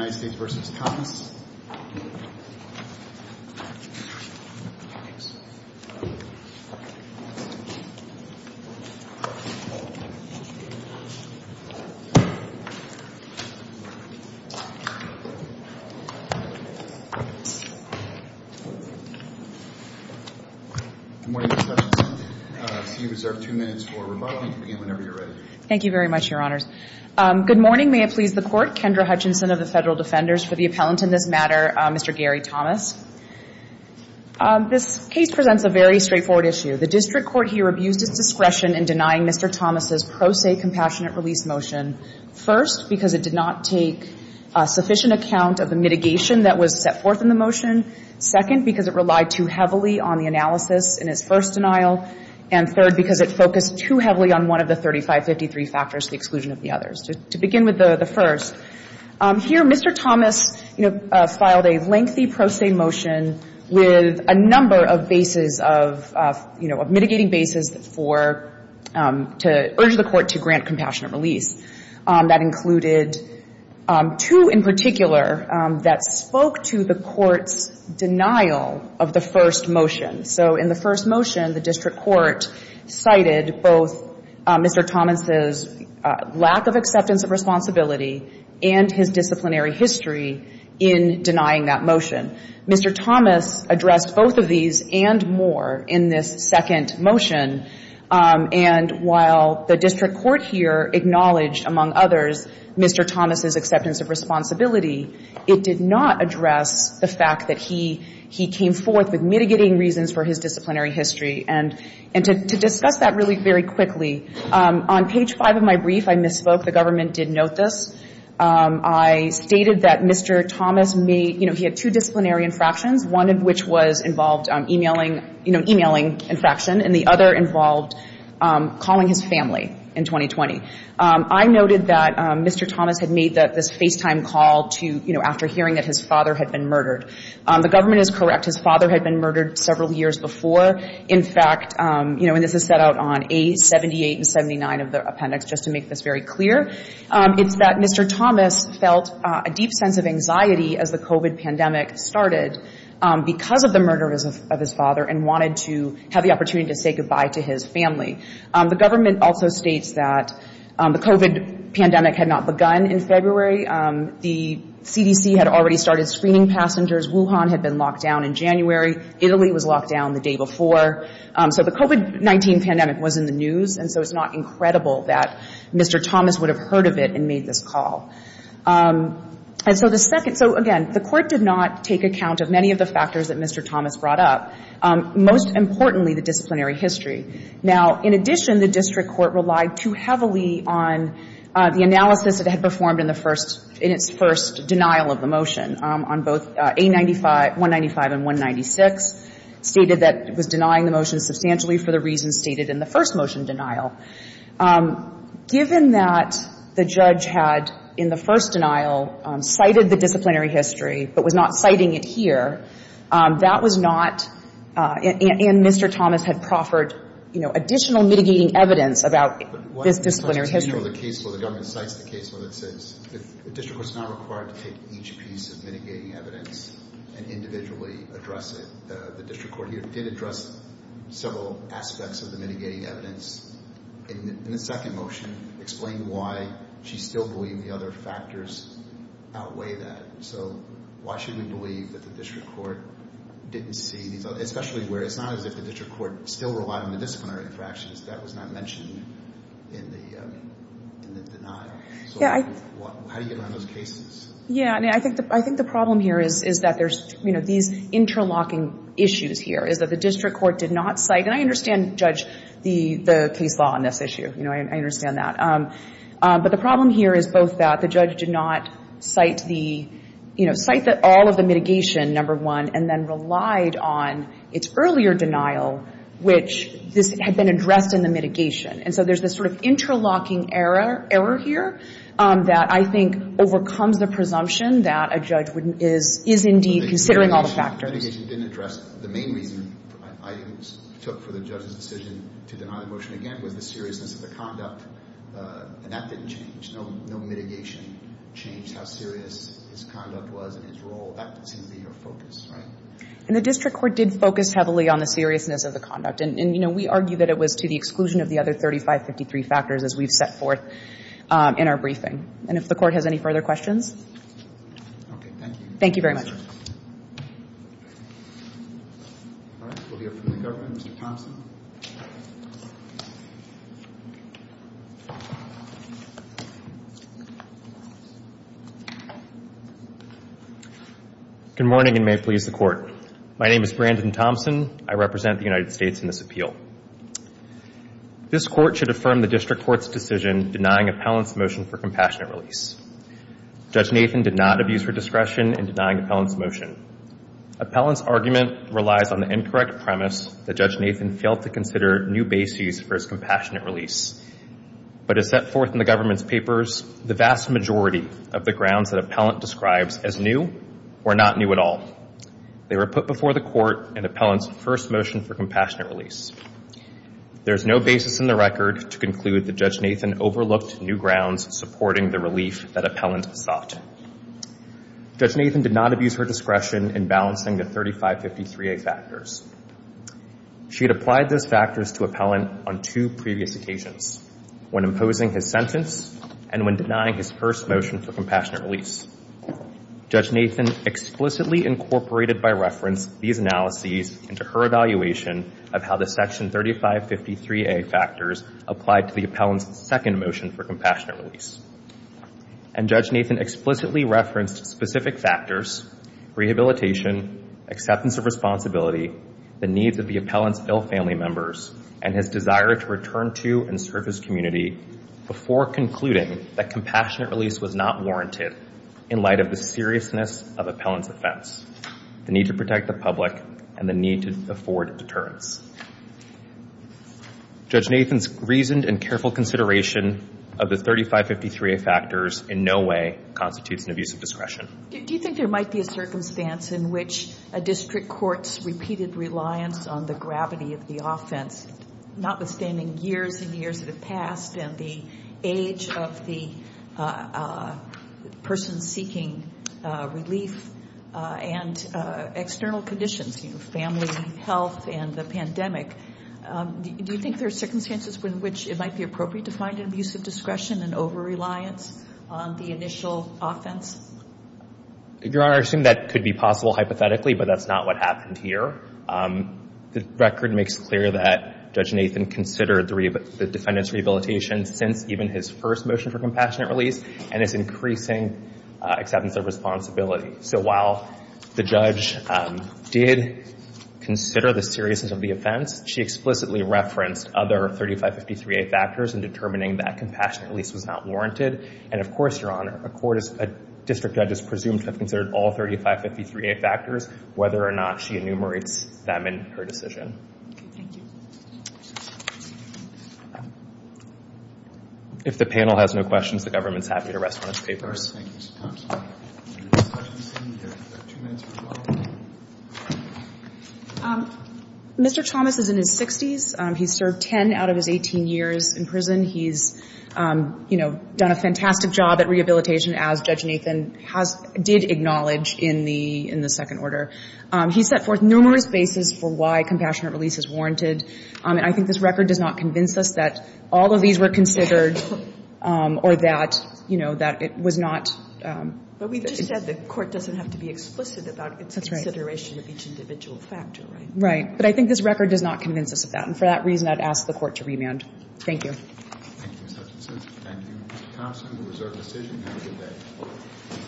Good morning, Mr. Hutchinson. You have two minutes for rebuttal whenever you're ready. Thank you very much, Your Honors. Good morning. May it please the Court, Kendra Hutchinson of the Federal Defenders. For the appellant in this matter, Mr. Gary Thomas. This case presents a very straightforward issue. The district court here abused its discretion in denying Mr. Thomas' pro se compassionate release motion. First, because it did not take sufficient account of the mitigation that was set forth in the motion. Second, because it relied too heavily on the analysis in its first denial. And third, because it focused too heavily on one of the 3553 factors, the exclusion of the others. So to begin with the first, here Mr. Thomas, you know, filed a lengthy pro se motion with a number of bases of, you know, of mitigating bases for, to urge the court to grant compassionate release. That included two in particular that spoke to the court's denial of the first motion. So in the first motion, the district court cited both Mr. Thomas' lack of acceptance of responsibility and his disciplinary history in denying that motion. Mr. Thomas addressed both of these and more in this second motion. And while the district court here acknowledged, among others, Mr. Thomas' acceptance of responsibility, it did not address the fact that he came forth with mitigating reasons for his disciplinary history. And to discuss that really very quickly, on page five of my brief, I misspoke. The government did note this. I stated that Mr. Thomas made, you know, he had two disciplinary infractions, one of which was involved emailing, you know, emailing infraction, and the other involved calling his family in 2020. I noted that Mr. Thomas had made this FaceTime call to, you know, after hearing that his father had been murdered. The government is correct. His father had been murdered several years before. In fact, you know, and this is set out on A78 and 79 of the appendix, just to make this very clear. It's that Mr. Thomas felt a deep sense of anxiety as the COVID pandemic started because of the murder of his father and wanted to have the opportunity to say goodbye to his family. The government also states that the COVID pandemic had not begun in February. The CDC had already started screening passengers. Wuhan had been locked down in January. Italy was locked down the day before. So the COVID-19 pandemic was in the news, and so it's not incredible that Mr. Thomas would have heard of it and made this call. And so the second — so, again, the Court did not take account of many of the factors that Mr. Thomas brought up, most importantly the disciplinary history. Now, in addition, the district court relied too heavily on the analysis that had performed in the first — in its first denial of the motion on both A95 — 195 and 196, stated that it was denying the motion substantially for the reasons stated in the first motion denial. Given that the judge had, in the first denial, cited the disciplinary history but was not citing it here, that was not — and Mr. Thomas had proffered, you know, additional mitigating evidence about this disciplinary history. The case where the government cites the case where it says the district court is not required to take each piece of mitigating evidence and individually address it. The district court here did address several aspects of the mitigating evidence in the second motion, explained why she still believed the other factors outweigh that. So why should we believe that the district court didn't see these — especially where it's not as if the district court still relied on the disciplinary interactions, that was not mentioned in the denial. So how do you get around those cases? Yeah, I mean, I think the problem here is that there's, you know, these interlocking issues here, is that the district court did not cite — and I understand, Judge, the case law on this issue. You know, I understand that. But the problem here is both that the judge did not cite the — you know, cite all of the mitigation, number one, and then relied on its earlier denial, which this had been addressed in the mitigation. And so there's this sort of interlocking error here that I think overcomes the presumption that a judge would — is indeed considering all the factors. Mitigation didn't address — the main reason I took for the judge's decision to deny the motion again was the seriousness of the conduct, and that didn't change. No mitigation changed how serious his conduct was and his role. That seemed to be your focus, right? And the district court did focus heavily on the seriousness of the conduct. And, you know, we argue that it was to the exclusion of the other 3553 factors, as we've set forth in our briefing. And if the Court has any further questions? Okay. Thank you. Thank you very much. All right. We'll hear from the government. Mr. Thompson? Good morning, and may it please the Court. My name is Brandon Thompson. I represent the United States in this appeal. This Court should affirm the district court's decision denying appellant's motion for compassionate release. Judge Nathan did not abuse her discretion in denying appellant's motion. Appellant's argument relies on the incorrect premise that Judge Nathan failed to consider new bases for his compassionate release. But as set forth in the government's papers, the vast majority of the grounds that appellant describes as new were not new at all. They were put before the Court in appellant's first motion for compassionate release. There's no basis in the record to conclude that Judge Nathan overlooked new grounds supporting the relief that appellant sought. Judge Nathan did not abuse her discretion in balancing the 3553A factors. She had applied those factors to appellant on two previous occasions, when imposing his sentence and when denying his first motion for compassionate release. Judge Nathan explicitly incorporated by reference these analyses into her evaluation of how the section 3553A factors applied to the appellant's second motion for compassionate release. And Judge Nathan explicitly referenced specific factors, rehabilitation, acceptance of responsibility, the needs of the appellant's ill family members, and his desire to return to and serve his community before concluding that compassionate release was not warranted in light of the seriousness of appellant's offense, the need to protect the public, and the need to afford deterrence. Judge Nathan's reasoned and careful consideration of the 3553A factors in no way constitutes an abuse of discretion. Do you think there might be a circumstance in which a district court's repeated reliance on the gravity of the offense, notwithstanding years and years that have passed, and the age of the person seeking relief, and external conditions, you know, family, health, and the pandemic, do you think there are circumstances in which it might be appropriate to find an abuse of discretion and over-reliance on the initial offense? Your Honor, I assume that could be possible hypothetically, but that's not what happened here. The record makes clear that Judge Nathan considered the defendant's rehabilitation since even his first motion for compassionate release and his increasing acceptance of responsibility. So while the judge did consider the seriousness of the offense, she explicitly referenced other 3553A factors in determining that compassionate release was not warranted. And of course, Your Honor, a district judge is presumed to have considered all 3553A factors, whether or not she enumerates them in her decision. If the panel has no questions, the government is happy to rest on its papers. Mr. Thomas is in his 60s. He served 10 out of his 18 years in prison. He's done a fantastic job at rehabilitation, as Judge Nathan did acknowledge in the second order. He set forth numerous bases for why compassionate release is warranted. And I think this record does not convince us that all of these were considered or that, you know, that it was not… But we've just said the court doesn't have to be explicit about its consideration of each individual factor, right? Right. But I think this record does not convince us of that. And for that reason, I'd ask the Court to remand. Thank you. Thank you, Mr. Hutchinson. Thank you, Mr. Thompson. This was our decision. Have a good day.